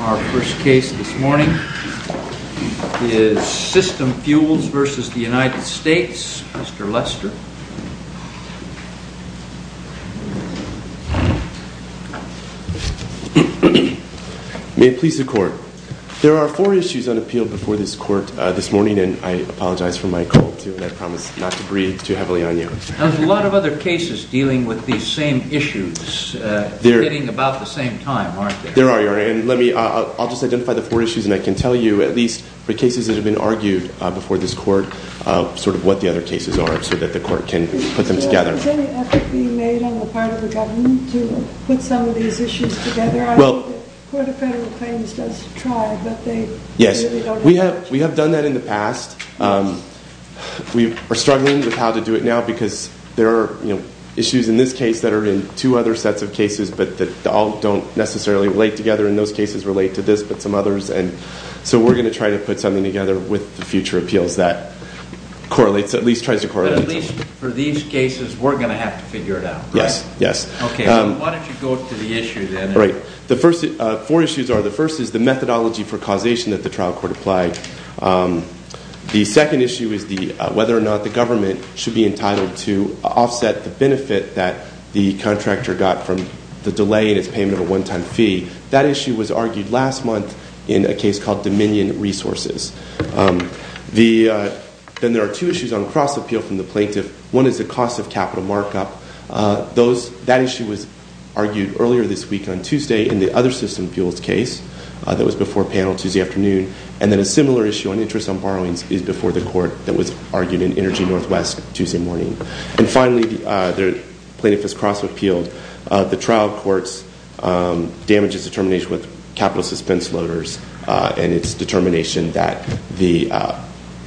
Our first case this morning is SYSTEM FUELS v. United States. Mr. Lester. May it please the Court. There are four issues on appeal before this Court this morning, and I apologize for my cold, too, and I promise not to breathe too heavily on you. There's a lot of other cases dealing with these same issues, hitting about the same time, aren't there? There are, Your Honor, and I'll just identify the four issues, and I can tell you, at least, for cases that have been argued before this Court, sort of what the other cases are, so that the Court can put them together. Has any effort been made on the part of the government to put some of these issues together? I think the Court of Federal Claims does try, but they really don't have much. We've done that in the past. We are struggling with how to do it now because there are issues in this case that are in two other sets of cases, but that all don't necessarily relate together. And those cases relate to this, but some others, and so we're going to try to put something together with the future appeals that correlates, at least tries to correlate. But at least for these cases, we're going to have to figure it out, correct? Yes, yes. Okay, why don't you go to the issue then? Right. The first four issues are, the first is the methodology for causation that the trial court applied. The second issue is whether or not the government should be entitled to offset the benefit that the contractor got from the delay in its payment of a one-time fee. That issue was argued last month in a case called Dominion Resources. Then there are two issues on cross-appeal from the plaintiff. One is the cost of capital markup. That issue was argued earlier this week on Tuesday in the other system appeals case that was before panel Tuesday afternoon. And then a similar issue on interest on borrowings is before the court that was argued in Energy Northwest Tuesday morning. And finally, the plaintiff has cross-appealed the trial court's damages determination with capital suspense loaders and its determination that the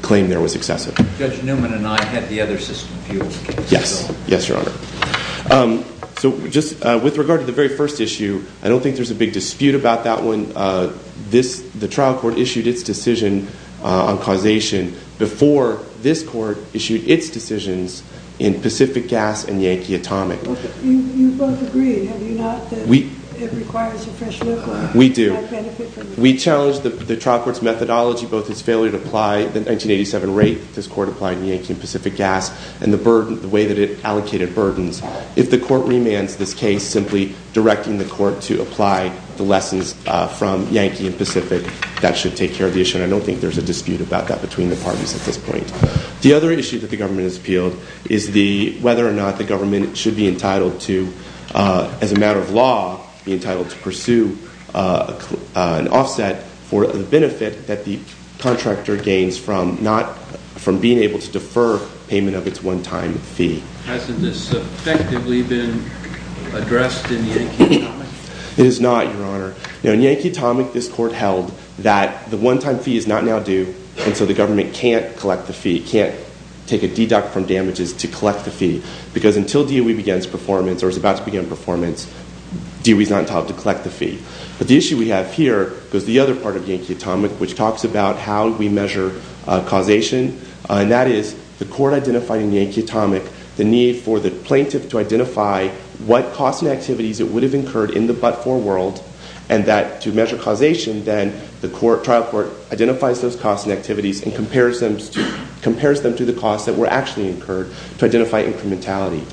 claim there was excessive. Judge Newman and I had the other system appeals case. Yes, yes, Your Honor. So just with regard to the very first issue, I don't think there's a big dispute about that one. The trial court issued its decision on causation before this court issued its decisions in Pacific Gas and Yankee Atomic. You both agree, have you not, that it requires a fresh look? We do. We challenge the trial court's methodology, both its failure to apply the 1987 rate this court applied in Yankee and Pacific Gas and the way that it allocated burdens. If the court remands this case simply directing the court to apply the lessons from Yankee and Pacific, that should take care of the issue. And I don't think there's a dispute about that between the parties at this point. The other issue that the government has appealed is whether or not the government should be entitled to, as a matter of law, be entitled to pursue an offset for the benefit that the contractor gains from being able to defer payment of its one-time fee. Hasn't this effectively been addressed in Yankee Atomic? It has not, Your Honor. In Yankee Atomic, this court held that the one-time fee is not now due, and so the government can't collect the fee, can't take a deduct from damages to collect the fee, because until DOE begins performance or is about to begin performance, DOE is not entitled to collect the fee. But the issue we have here is the other part of Yankee Atomic, which talks about how we measure causation, and that is the court identifying in Yankee Atomic the need for the plaintiff to identify what costs and activities it would have incurred in the but-for world, and that to measure causation, then the trial court identifies those costs and activities and compares them to the costs that were actually incurred to identify incrementality.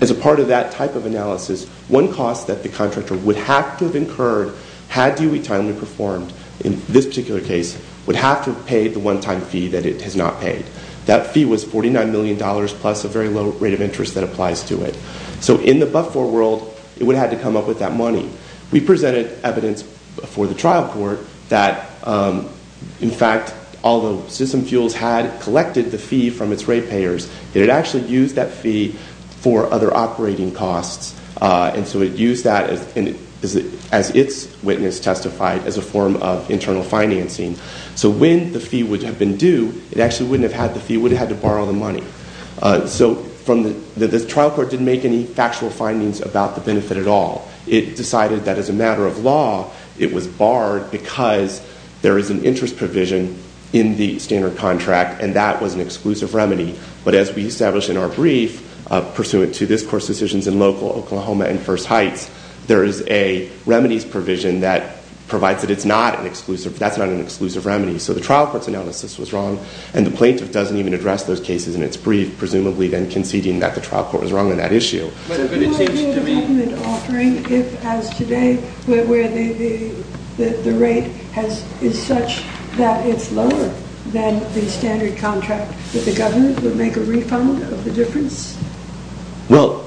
As a part of that type of analysis, one cost that the contractor would have to have incurred had DOE timely performed, in this particular case, would have to have paid the one-time fee that it has not paid. That fee was $49 million plus a very low rate of interest that applies to it. So in the but-for world, it would have had to come up with that money. We presented evidence for the trial court that, in fact, although System Fuels had collected the fee from its rate payers, it had actually used that fee for other operating costs. And so it used that, as its witness testified, as a form of internal financing. So when the fee would have been due, it actually wouldn't have had the fee. It would have had to borrow the money. So the trial court didn't make any factual findings about the benefit at all. It decided that, as a matter of law, it was barred because there is an interest provision in the standard contract, and that was an exclusive remedy. But as we established in our brief, pursuant to this Court's decisions in local Oklahoma and First Heights, there is a remedies provision that provides that that's not an exclusive remedy. So the trial court's analysis was wrong, and the plaintiff doesn't even address those cases in its brief, presumably then conceding that the trial court was wrong on that issue. Do you have a government offering if, as today, where the rate is such that it's lower than the standard contract, that the government would make a refund of the difference? Well,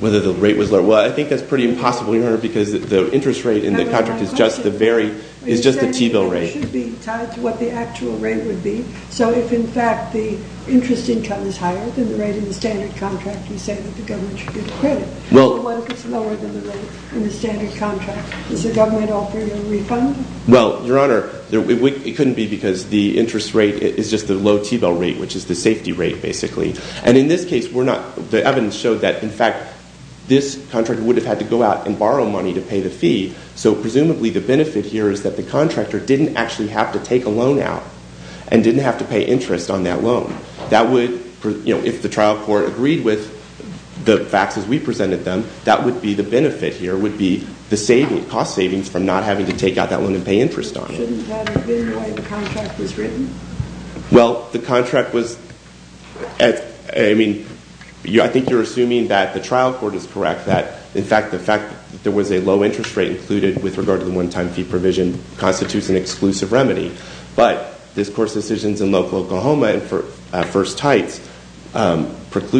whether the rate was lower. Well, I think that's pretty impossible, Your Honor, because the interest rate in the contract is just the T-bill rate. It should be tied to what the actual rate would be. So if, in fact, the interest income is higher than the rate in the standard contract, you say that the government should get credit. Well— But what if it's lower than the rate in the standard contract? Does the government offer you a refund? Well, Your Honor, it couldn't be because the interest rate is just the low T-bill rate, which is the safety rate, basically. And in this case, the evidence showed that, in fact, this contractor would have had to go out and borrow money to pay the fee. So presumably the benefit here is that the contractor didn't actually have to take a loan out and didn't have to pay interest on that loan. If the trial court agreed with the facts as we presented them, that would be the benefit here, would be the cost savings from not having to take out that loan and pay interest on it. Shouldn't that have been the way the contract was written? Well, the contract was—I mean, I think you're assuming that the trial court is correct, that, in fact, the fact that there was a low interest rate included with regard to the one-time fee provision constitutes an exclusive remedy. But this Court's decisions in local Oklahoma and at First Heights conflict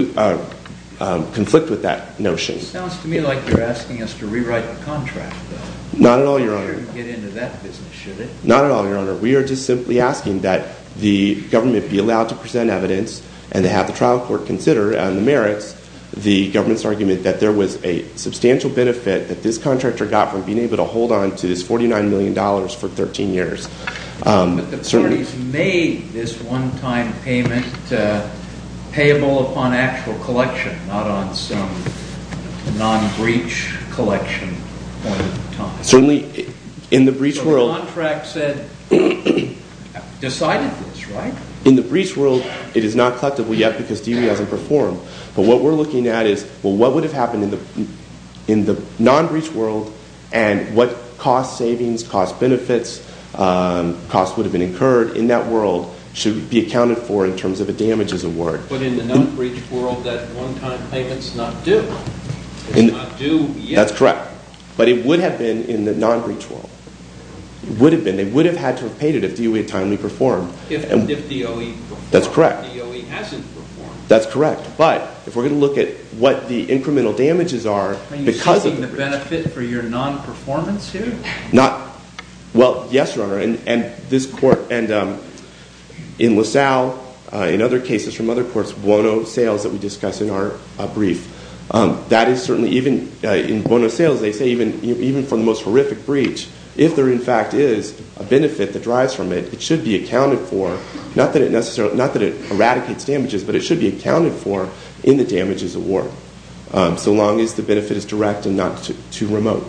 with that notion. It sounds to me like you're asking us to rewrite the contract, though. Not at all, Your Honor. We shouldn't get into that business, should we? Not at all, Your Honor. We are just simply asking that the government be allowed to present evidence and to have the trial court consider on the merits the government's argument that there was a substantial benefit that this contractor got from being able to hold on to this $49 million for 13 years. But the parties made this one-time payment payable upon actual collection, not on some non-breach collection point in time. Certainly, in the breach world— So the contract said—decided this, right? In the breach world, it is not collectible yet because DV hasn't performed. But what we're looking at is, well, what would have happened in the non-breach world and what cost savings, cost benefits, costs would have been incurred in that world should be accounted for in terms of a damages award. But in the non-breach world, that one-time payment's not due. It's not due yet. That's correct. But it would have been in the non-breach world. It would have been. They would have had to have paid it if DOE had timely performed. If DOE performed. That's correct. If DOE hasn't performed. That's correct. But if we're going to look at what the incremental damages are— Are you seeking the benefit for your non-performance here? Not—well, yes, Your Honor. And this court—and in LaSalle, in other cases from other courts, Bono sales that we discussed in our brief, that is certainly even—in Bono sales, they say even for the most horrific breach, if there in fact is a benefit that drives from it, it should be accounted for. Not that it eradicates damages, but it should be accounted for in the damages award, so long as the benefit is direct and not too remote.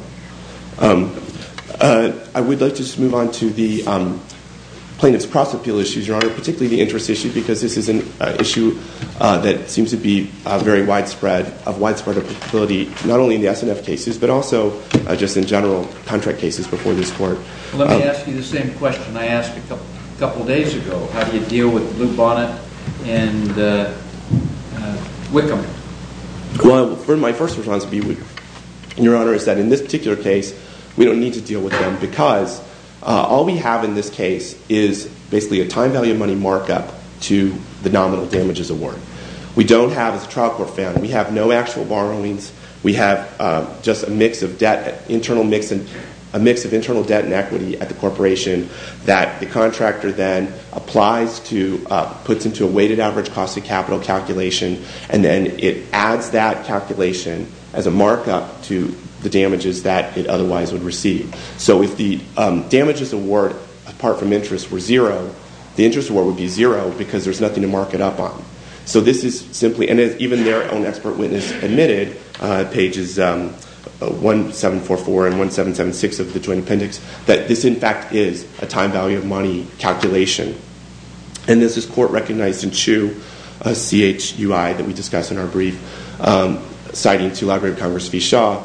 I would like to just move on to the plaintiff's cross-appeal issues, Your Honor, particularly the interest issue, because this is an issue that seems to be very widespread, of widespread applicability, not only in the SNF cases, but also just in general contract cases before this court. Let me ask you the same question I asked a couple of days ago. How do you deal with Lou Bonnet and Wickham? Well, my first response, Your Honor, is that in this particular case, we don't need to deal with them because all we have in this case is basically a time value of money markup to the nominal damages award. We don't have, as the trial court found, we have no actual borrowings. We have just a mix of debt, a mix of internal debt and equity at the corporation that the contractor then applies to, puts into a weighted average cost of capital calculation, and then it adds that calculation as a markup to the damages that it otherwise would receive. So if the damages award, apart from interest, were zero, the interest award would be zero because there's nothing to mark it up on. So this is simply, and even their own expert witness admitted, pages 1744 and 1776 of the Joint Appendix, that this, in fact, is a time value of money calculation. And as this court recognized in Chu, a CHUI that we discussed in our brief, citing to Library of Congress v. Shaw,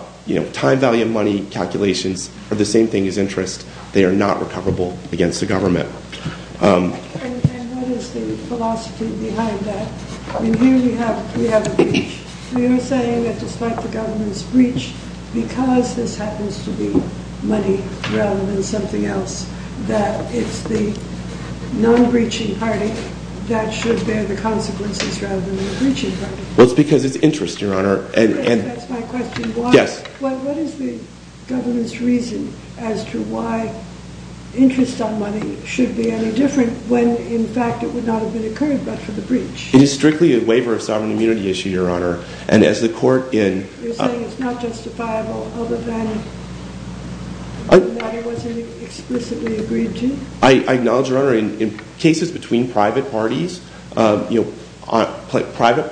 time value of money calculations are the same thing as interest. They are not recoverable against the government. And what is the philosophy behind that? Here we have a breach. We are saying that despite the government's breach, because this happens to be money rather than something else, that it's the non-breaching party that should bear the consequences rather than the breaching party. Well, it's because it's interest, Your Honor. That's my question. Yes. Well, what is the government's reason as to why interest on money should be any different when, in fact, it would not have been incurred but for the breach? It is strictly a waiver of sovereign immunity issue, Your Honor. And as the court in— You're saying it's not justifiable other than the matter wasn't explicitly agreed to? I acknowledge, Your Honor, in cases between private parties, private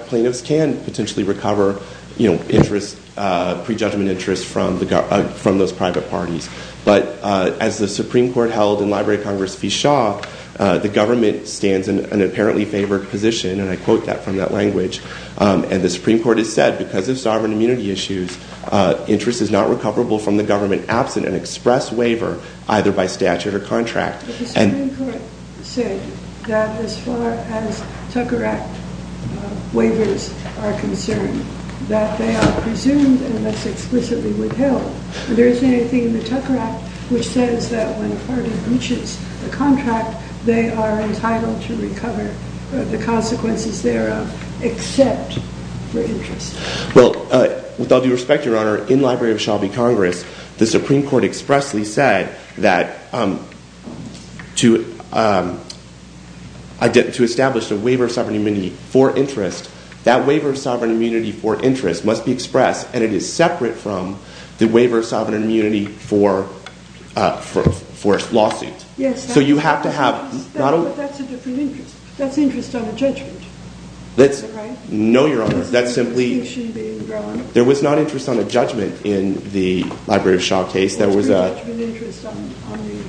plaintiffs can potentially recover pre-judgment interest from those private parties. But as the Supreme Court held in Library of Congress v. Shaw, the government stands in an apparently favored position, and I quote that from that language, and the Supreme Court has said because of sovereign immunity issues, interest is not recoverable from the government absent an express waiver either by statute or contract. But the Supreme Court said that as far as Tucker Act waivers are concerned, that they are presumed unless explicitly withheld. Is there anything in the Tucker Act which says that when a party breaches the contract, they are entitled to recover the consequences thereof except for interest? Well, with all due respect, Your Honor, in Library of Shaw v. Congress, the Supreme Court expressly said that to establish a waiver of sovereign immunity for interest, that waiver of sovereign immunity for interest must be expressed, and it is separate from the waiver of sovereign immunity for a lawsuit. Yes. So you have to have— That's a different interest. That's interest on a judgment. No, Your Honor, that's simply— There was not interest on a judgment in the Library of Congress. In the Library of Shaw case, there was a— That's your judgment interest on the—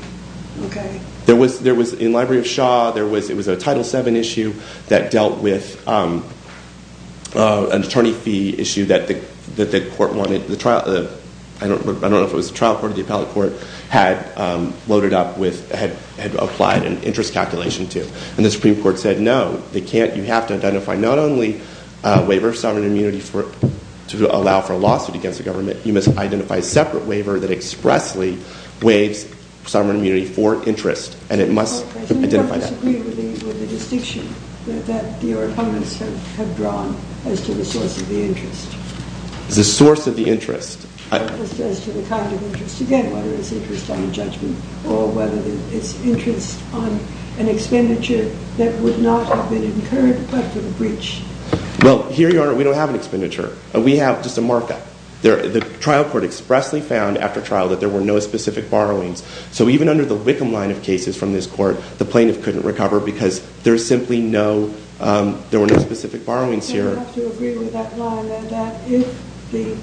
Okay. In Library of Shaw, it was a Title VII issue that dealt with an attorney fee issue that the court wanted. I don't know if it was the trial court or the appellate court had loaded up with— had applied an interest calculation to. And the Supreme Court said, no, you have to identify not only a waiver of sovereign immunity to allow for a lawsuit against the government, you must identify a separate waiver that expressly waives sovereign immunity for interest, and it must identify that. Okay, so you have to agree with the distinction that your opponents have drawn as to the source of the interest. The source of the interest. As to the kind of interest, again, whether it's interest on a judgment or whether it's interest on an expenditure that would not have been incurred but for the breach. Well, here, Your Honor, we don't have an expenditure. We have just a markup. The trial court expressly found after trial that there were no specific borrowings. So even under the Wickham line of cases from this court, the plaintiff couldn't recover because there's simply no—there were no specific borrowings here. So you have to agree with that line and that if the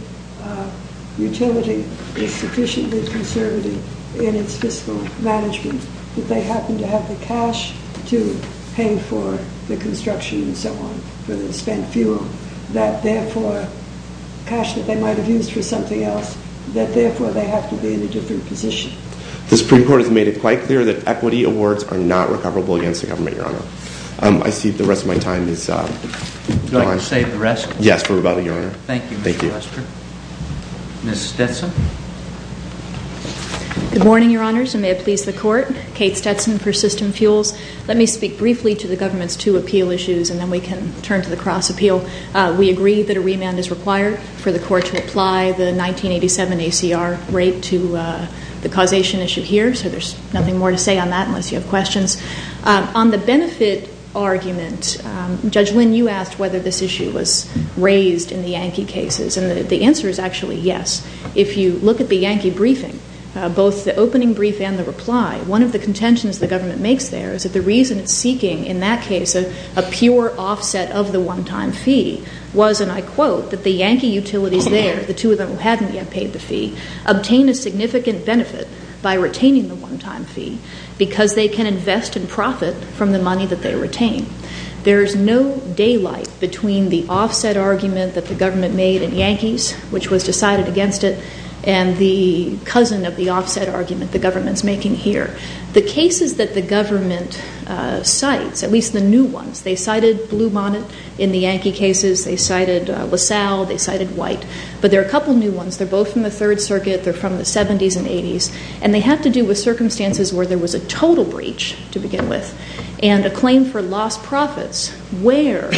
utility is sufficiently conservative in its fiscal management, that they happen to have the cash to pay for the construction and so on, for the spent fuel, that, therefore, cash that they might have used for something else, that, therefore, they have to be in a different position. The Supreme Court has made it quite clear that equity awards are not recoverable against the government, Your Honor. I see the rest of my time is gone. Would you like to save the rest? Yes, for rebuttal, Your Honor. Thank you, Mr. Lester. Thank you. Ms. Stetson. Good morning, Your Honors, and may it please the Court. Kate Stetson for System Fuels. Let me speak briefly to the government's two appeal issues, and then we can turn to the cross appeal. We agree that a remand is required for the court to apply the 1987 ACR rate to the causation issue here, so there's nothing more to say on that unless you have questions. On the benefit argument, Judge Lynn, you asked whether this issue was raised in the Yankee cases, and the answer is actually yes. If you look at the Yankee briefing, both the opening brief and the reply, one of the contentions the government makes there is that the reason it's seeking, in that case, a pure offset of the one-time fee was, and I quote, that the Yankee utilities there, the two of them who haven't yet paid the fee, obtain a significant benefit by retaining the one-time fee because they can invest in profit from the money that they retain. There's no daylight between the offset argument that the government made in Yankees, which was decided against it, and the cousin of the offset argument the government's making here. The cases that the government cites, at least the new ones, they cited Blue Monnet in the Yankee cases, they cited LaSalle, they cited White, but there are a couple new ones. They're both from the Third Circuit, they're from the 70s and 80s, and they have to do with circumstances where there was a total breach to begin with and a claim for lost profits where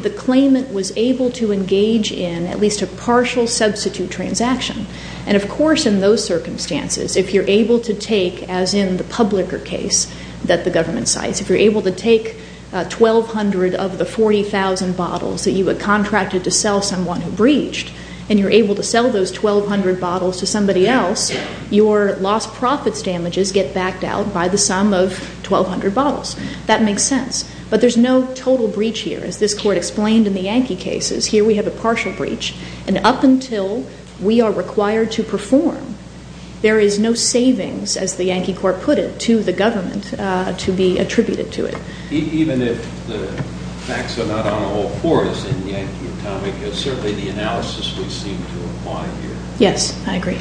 the claimant was able to engage in at least a partial substitute transaction. And, of course, in those circumstances, if you're able to take, as in the Publicker case that the government cites, if you're able to take 1,200 of the 40,000 bottles that you had contracted to sell someone who breached and you're able to sell those 1,200 bottles to somebody else, your lost profits damages get backed out by the sum of 1,200 bottles. That makes sense. But there's no total breach here, as this Court explained in the Yankee cases. Here we have a partial breach, and up until we are required to perform, there is no savings, as the Yankee Court put it, to the government to be attributed to it. Even if the facts are not on all fours in the Yankee Atomic, it's certainly the analysis we seem to apply here. Yes, I agree.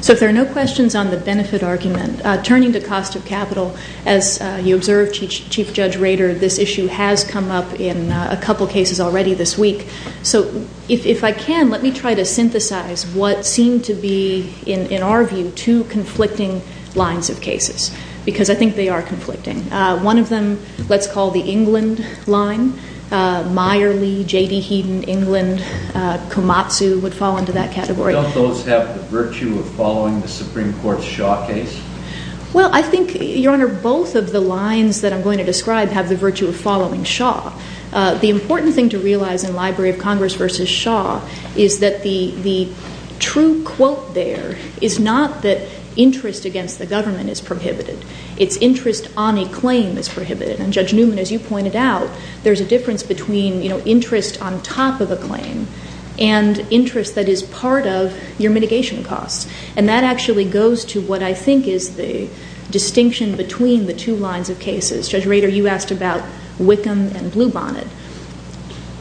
So if there are no questions on the benefit argument, turning to cost of capital, as you observed, Chief Judge Rader, this issue has come up in a couple cases already this week. So if I can, let me try to synthesize what seem to be, in our view, two conflicting lines of cases, because I think they are conflicting. One of them, let's call the England line. Meyerly, J.D. Heaton, England, Komatsu would fall into that category. Don't those have the virtue of following the Supreme Court's Shaw case? Well, I think, Your Honor, both of the lines that I'm going to describe have the virtue of following Shaw. The important thing to realize in Library of Congress v. Shaw is that the true quote there is not that interest against the government is prohibited. It's interest on a claim is prohibited. And Judge Newman, as you pointed out, there's a difference between, you know, interest on top of a claim and interest that is part of your mitigation costs. And that actually goes to what I think is the distinction between the two lines of cases. Judge Rader, you asked about Wickham and Bluebonnet.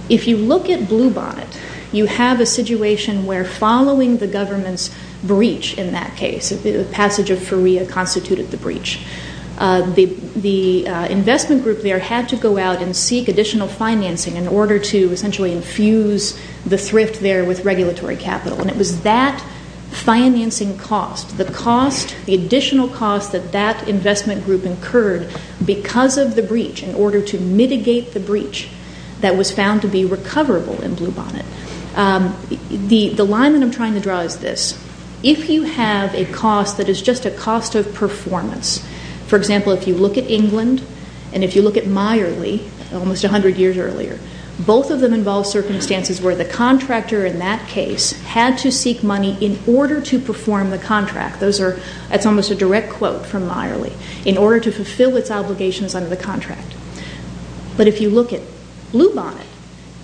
If you look at Bluebonnet, you have a situation where following the government's breach in that case, the passage of FURIA constituted the breach. The investment group there had to go out and seek additional financing in order to essentially infuse the thrift there with regulatory capital. And it was that financing cost, the cost, the additional cost that that investment group incurred because of the breach in order to mitigate the breach that was found to be recoverable in Bluebonnet. The line that I'm trying to draw is this. If you have a cost that is just a cost of performance, for example, if you look at England and if you look at Meyerly almost 100 years earlier, both of them involve circumstances where the contractor in that case had to seek money in order to perform the contract. That's almost a direct quote from Meyerly, in order to fulfill its obligations under the contract. But if you look at Bluebonnet,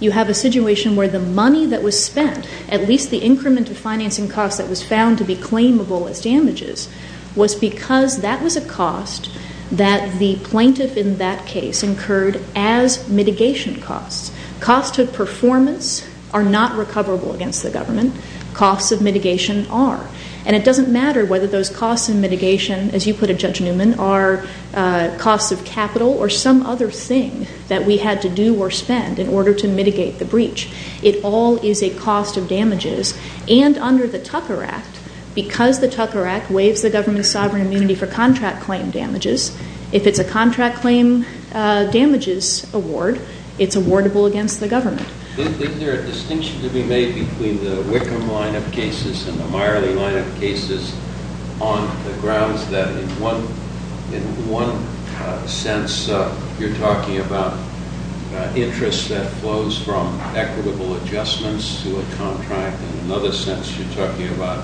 you have a situation where the money that was spent, at least the increment of financing cost that was found to be claimable as damages, was because that was a cost that the plaintiff in that case incurred as mitigation costs. Cost of performance are not recoverable against the government. Costs of mitigation are. And it doesn't matter whether those costs in mitigation, as you put it, Judge Newman, are costs of capital or some other thing that we had to do or spend in order to mitigate the breach. It all is a cost of damages. And under the Tucker Act, because the Tucker Act waives the government's sovereign immunity for contract claim damages, if it's a contract claim damages award, it's awardable against the government. Is there a distinction to be made between the Wickham line of cases and the Meyerly line of cases on the grounds that in one sense you're talking about interest that flows from equitable adjustments to a contract, and in another sense you're talking about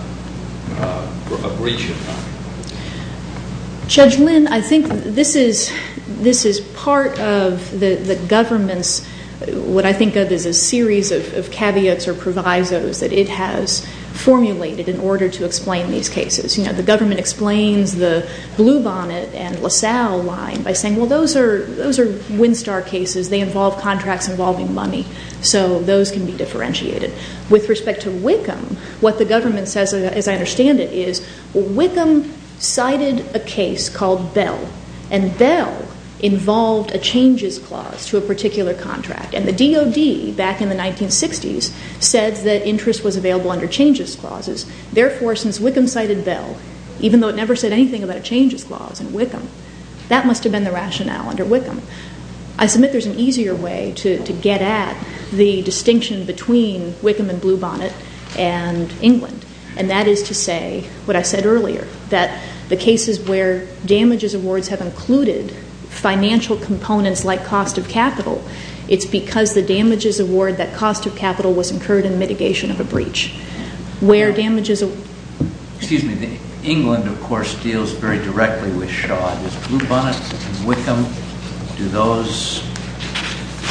a breach of contract? Judge Lynn, I think this is part of the government's, what I think of as a series of caveats or provisos that it has formulated in order to explain these cases. You know, the government explains the Blue Bonnet and LaSalle line by saying, well, those are Winstar cases. They involve contracts involving money. So those can be differentiated. With respect to Wickham, what the government says, as I understand it, is Wickham cited a case called Bell, and Bell involved a changes clause to a particular contract. And the DOD, back in the 1960s, said that interest was available under changes clauses. Therefore, since Wickham cited Bell, even though it never said anything about a changes clause in Wickham, that must have been the rationale under Wickham. I submit there's an easier way to get at the distinction between Wickham and Blue Bonnet and England, and that is to say what I said earlier, that the cases where damages awards have included financial components like cost of capital, it's because the damages award that cost of capital was incurred in the mitigation of a breach. Where damages award... Excuse me. England, of course, deals very directly with Shaw. Does Blue Bonnet and Wickham, do those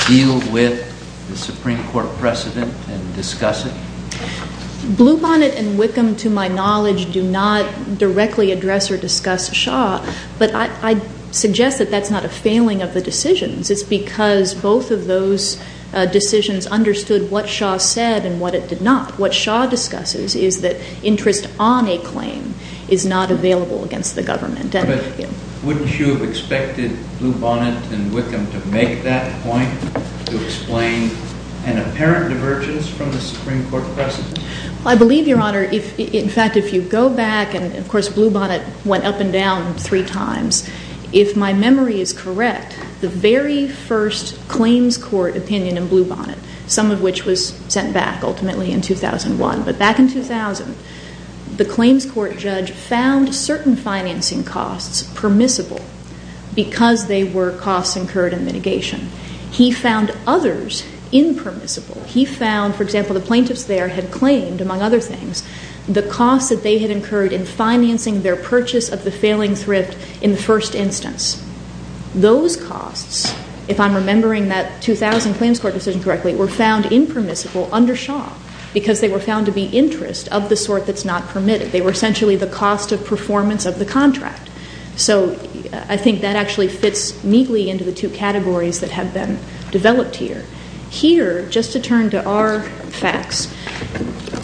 deal with the Supreme Court precedent and discuss it? Blue Bonnet and Wickham, to my knowledge, do not directly address or discuss Shaw. But I suggest that that's not a failing of the decisions. It's because both of those decisions understood what Shaw said and what it did not. What Shaw discusses is that interest on a claim is not available against the government. But wouldn't you have expected Blue Bonnet and Wickham to make that point, to explain an apparent divergence from the Supreme Court precedent? I believe, Your Honor, in fact, if you go back and, of course, Blue Bonnet went up and down three times. If my memory is correct, the very first claims court opinion in Blue Bonnet, some of which was sent back ultimately in 2001, but back in 2000, the claims court judge found certain financing costs permissible because they were costs incurred in mitigation. He found others impermissible. He found, for example, the plaintiffs there had claimed, among other things, the costs that they had incurred in financing their purchase of the failing thrift in the first instance. Those costs, if I'm remembering that 2000 claims court decision correctly, were found impermissible under Shaw because they were found to be interest of the sort that's not permitted. They were essentially the cost of performance of the contract. So I think that actually fits neatly into the two categories that have been developed here. Here, just to turn to our facts,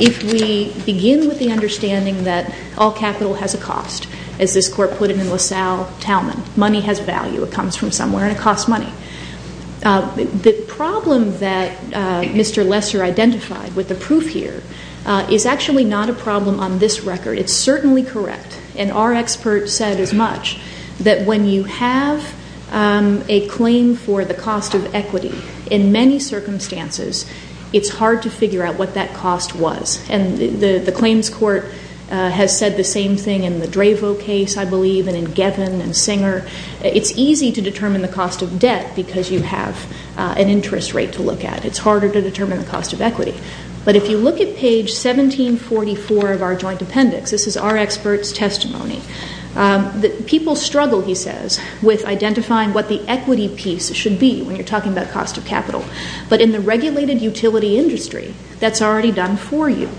if we begin with the understanding that all capital has a cost, as this court put it in LaSalle-Townman, money has value. It comes from somewhere and it costs money. The problem that Mr. Lesser identified with the proof here is actually not a problem on this record. It's certainly correct, and our expert said as much, that when you have a claim for the cost of equity in many circumstances, it's hard to figure out what that cost was. And the claims court has said the same thing in the Dravo case, I believe, and in Gevin and Singer. It's easy to determine the cost of debt because you have an interest rate to look at. It's harder to determine the cost of equity. But if you look at page 1744 of our joint appendix, this is our expert's testimony, that people struggle, he says, with identifying what the equity piece should be when you're talking about cost of capital. But in the regulated utility industry, that's already done for you.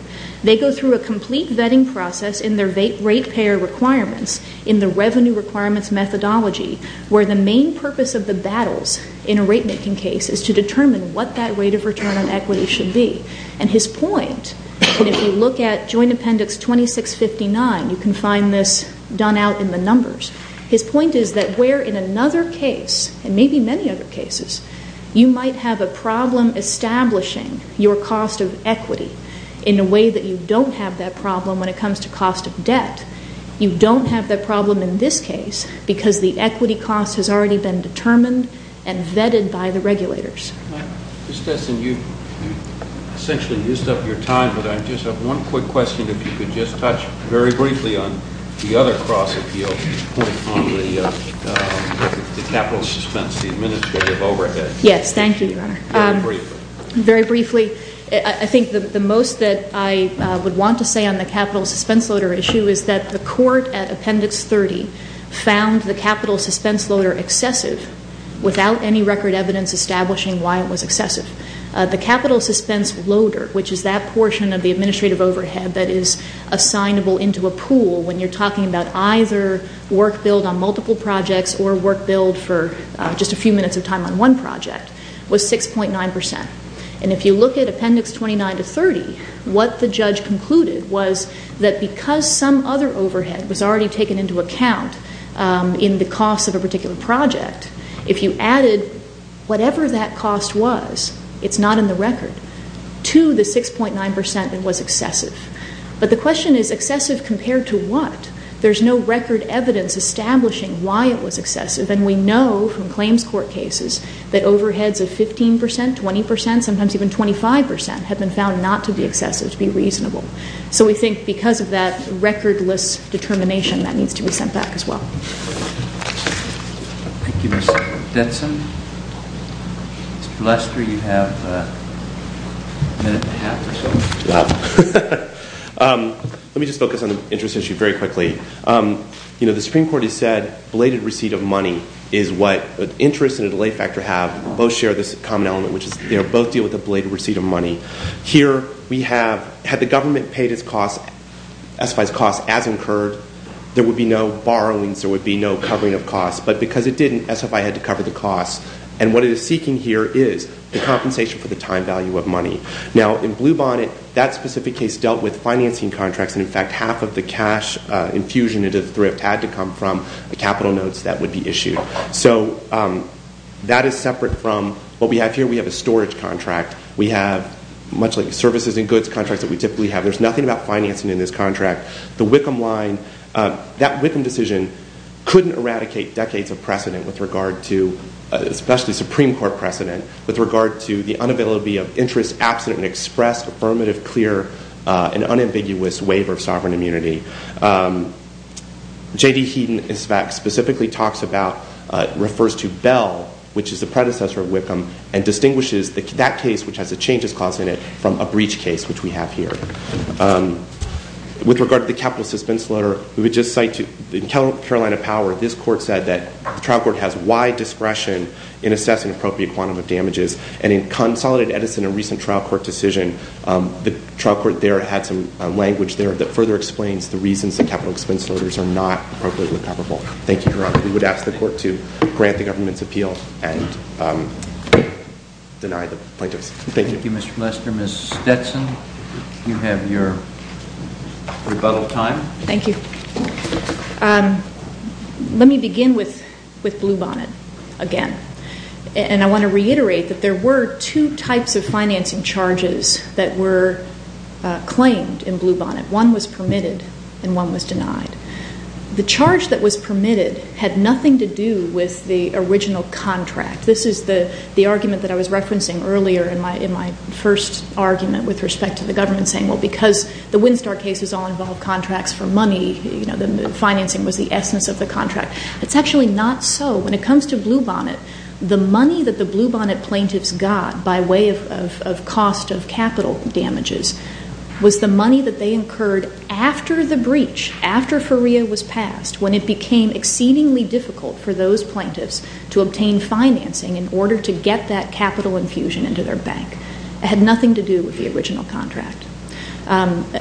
They go through a complete vetting process in their rate payer requirements in the revenue requirements methodology, where the main purpose of the battles in a rate making case is to determine what that rate of return on equity should be. And his point, and if you look at joint appendix 2659, you can find this done out in the numbers. His point is that where in another case, and maybe many other cases, you might have a problem establishing your cost of equity in a way that you don't have that problem when it comes to cost of debt, you don't have that problem in this case because the equity cost has already been determined and vetted by the regulators. Ms. Dessen, you essentially used up your time, but I just have one quick question, if you could just touch very briefly on the other cross-appeal point on the capital suspense, the administrative overhead. Yes, thank you, Your Honor. Very briefly. Very briefly. I think the most that I would want to say on the capital suspense loader issue is that the court at appendix 30 found the capital suspense loader excessive without any record evidence establishing why it was excessive. The capital suspense loader, which is that portion of the administrative overhead that is assignable into a pool when you're talking about either work build on multiple projects or work build for just a few minutes of time on one project, was 6.9 percent. And if you look at appendix 29 to 30, what the judge concluded was that because some other overhead was already taken into account in the cost of a particular project, if you added whatever that cost was, it's not in the record, to the 6.9 percent, it was excessive. But the question is excessive compared to what? There's no record evidence establishing why it was excessive, and we know from claims court cases that overheads of 15 percent, 20 percent, sometimes even 25 percent, have been found not to be excessive, to be reasonable. So we think because of that recordless determination, that needs to be sent back as well. Thank you, Ms. Denson. For the last three, you have a minute and a half or so. Wow. Let me just focus on the interest issue very quickly. The Supreme Court has said belated receipt of money is what interest and a delay factor have. Both share this common element, which is they both deal with a belated receipt of money. Here we have had the government paid its costs, SFI's costs, as incurred, there would be no borrowings, there would be no covering of costs. But because it didn't, SFI had to cover the costs. And what it is seeking here is the compensation for the time value of money. Now, in Bluebonnet, that specific case dealt with financing contracts, and, in fact, half of the cash infusion into the thrift had to come from the capital notes that would be issued. So that is separate from what we have here. We have a storage contract. We have much like services and goods contracts that we typically have. There's nothing about financing in this contract. The Wickham line, that Wickham decision couldn't eradicate decades of precedent with regard to, especially Supreme Court precedent, with regard to the unavailability of interest, affirmative, clear, and unambiguous waiver of sovereign immunity. J.D. Heaton, in fact, specifically talks about, refers to Bell, which is the predecessor of Wickham, and distinguishes that case, which has a changes clause in it, from a breach case, which we have here. With regard to the capital suspense letter, we would just cite to the Carolina Power, this court said that the trial court has wide discretion in assessing appropriate quantum of damages, and in Consolidated Edison, a recent trial court decision, the trial court there had some language there that further explains the reasons that capital expense letters are not appropriately comparable. Thank you, Your Honor. We would ask the court to grant the government's appeal and deny the plaintiffs. Thank you. Thank you, Mr. Lester. Ms. Stetson, you have your rebuttal time. Thank you. Let me begin with Bluebonnet again, and I want to reiterate that there were two types of financing charges that were claimed in Bluebonnet. One was permitted and one was denied. The charge that was permitted had nothing to do with the original contract. This is the argument that I was referencing earlier in my first argument with respect to the government, saying, well, because the Windstar cases all involve contracts for money, you know, the financing was the essence of the contract. It's actually not so. When it comes to Bluebonnet, the money that the Bluebonnet plaintiffs got by way of cost of capital damages was the money that they incurred after the breach, after FERIA was passed, when it became exceedingly difficult for those plaintiffs to obtain financing in order to get that capital infusion into their bank. It had nothing to do with the original contract.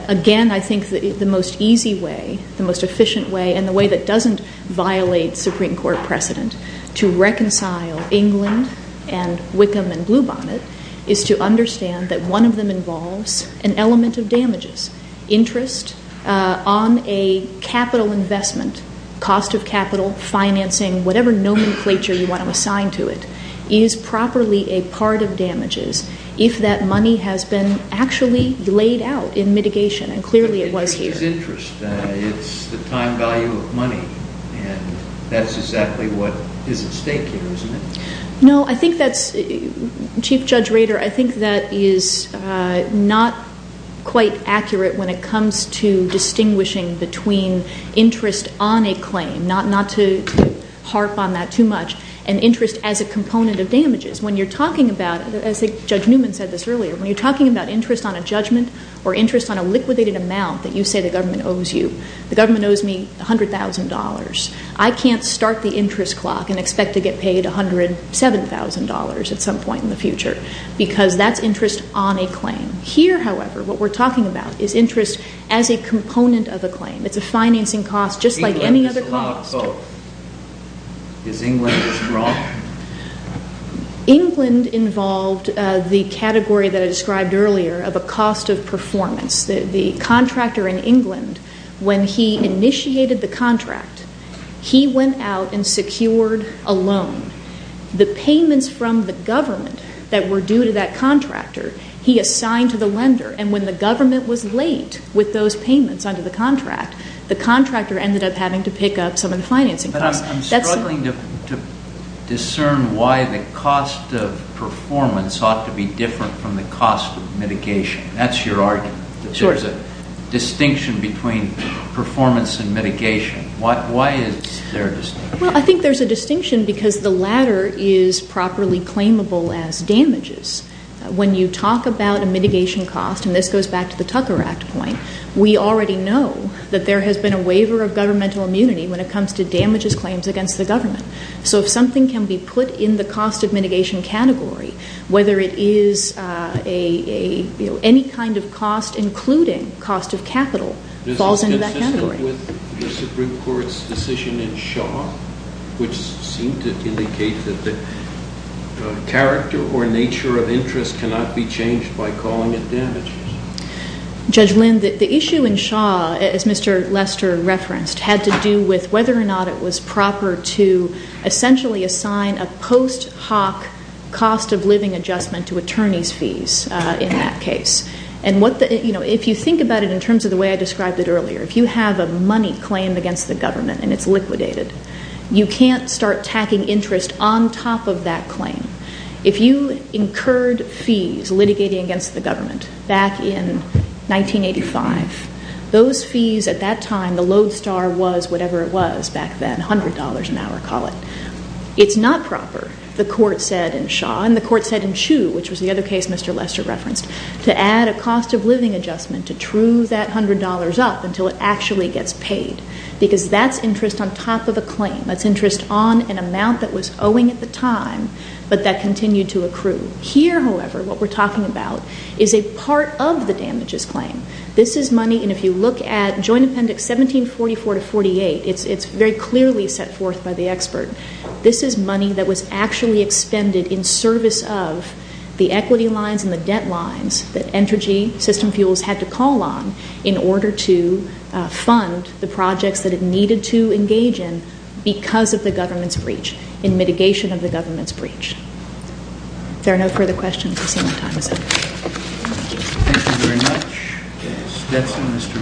Again, I think the most easy way, the most efficient way, and the way that doesn't violate Supreme Court precedent to reconcile England and Wickham and Bluebonnet is to understand that one of them involves an element of damages. Interest on a capital investment, cost of capital, financing, whatever nomenclature you want to assign to it is properly a part of damages if that money has been actually laid out in mitigation, and clearly it was here. But that's interest. It's the time value of money, and that's exactly what is at stake here, isn't it? No, I think that's, Chief Judge Rader, I think that is not quite accurate when it comes to distinguishing between interest on a claim, not to harp on that too much, and interest as a component of damages. When you're talking about, as Judge Newman said this earlier, when you're talking about interest on a judgment or interest on a liquidated amount that you say the government owes you, the government owes me $100,000. I can't start the interest clock and expect to get paid $107,000 at some point in the future because that's interest on a claim. Here, however, what we're talking about is interest as a component of a claim. It's a financing cost just like any other cost. England is allowed both. Because England is wrong. England involved the category that I described earlier of a cost of performance. The contractor in England, when he initiated the contract, he went out and secured a loan. The payments from the government that were due to that contractor, he assigned to the lender, and when the government was late with those payments under the contract, the contractor ended up having to pick up some of the financing costs. I'm struggling to discern why the cost of performance ought to be different from the cost of mitigation. That's your argument, that there's a distinction between performance and mitigation. Why is there a distinction? Well, I think there's a distinction because the latter is properly claimable as damages. When you talk about a mitigation cost, and this goes back to the Tucker Act point, we already know that there has been a waiver of governmental immunity when it comes to damages claims against the government. So if something can be put in the cost of mitigation category, whether it is any kind of cost, including cost of capital, falls into that category. Does this consist with the Supreme Court's decision in Shaw, which seemed to indicate that the character or nature of interest cannot be changed by calling it damages? Judge Lynn, the issue in Shaw, as Mr. Lester referenced, had to do with whether or not it was proper to essentially assign a post hoc cost of living adjustment to attorney's fees in that case. And if you think about it in terms of the way I described it earlier, if you have a money claim against the government and it's liquidated, you can't start tacking interest on top of that claim. If you incurred fees litigating against the government back in 1985, those fees at that time, the lodestar was whatever it was back then, $100 an hour, call it. It's not proper, the court said in Shaw, and the court said in Chu, which was the other case Mr. Lester referenced, to add a cost of living adjustment to true that $100 up until it actually gets paid, because that's interest on top of a claim. That's interest on an amount that was owing at the time, but that continued to accrue. Here, however, what we're talking about is a part of the damages claim. This is money, and if you look at Joint Appendix 1744-48, it's very clearly set forth by the expert. This is money that was actually expended in service of the equity lines and the debt lines that Entergy System Fuels had to call on in order to fund the projects that it needed to engage in because of the government's breach, in mitigation of the government's breach. If there are no further questions, I see my time is up. Thank you.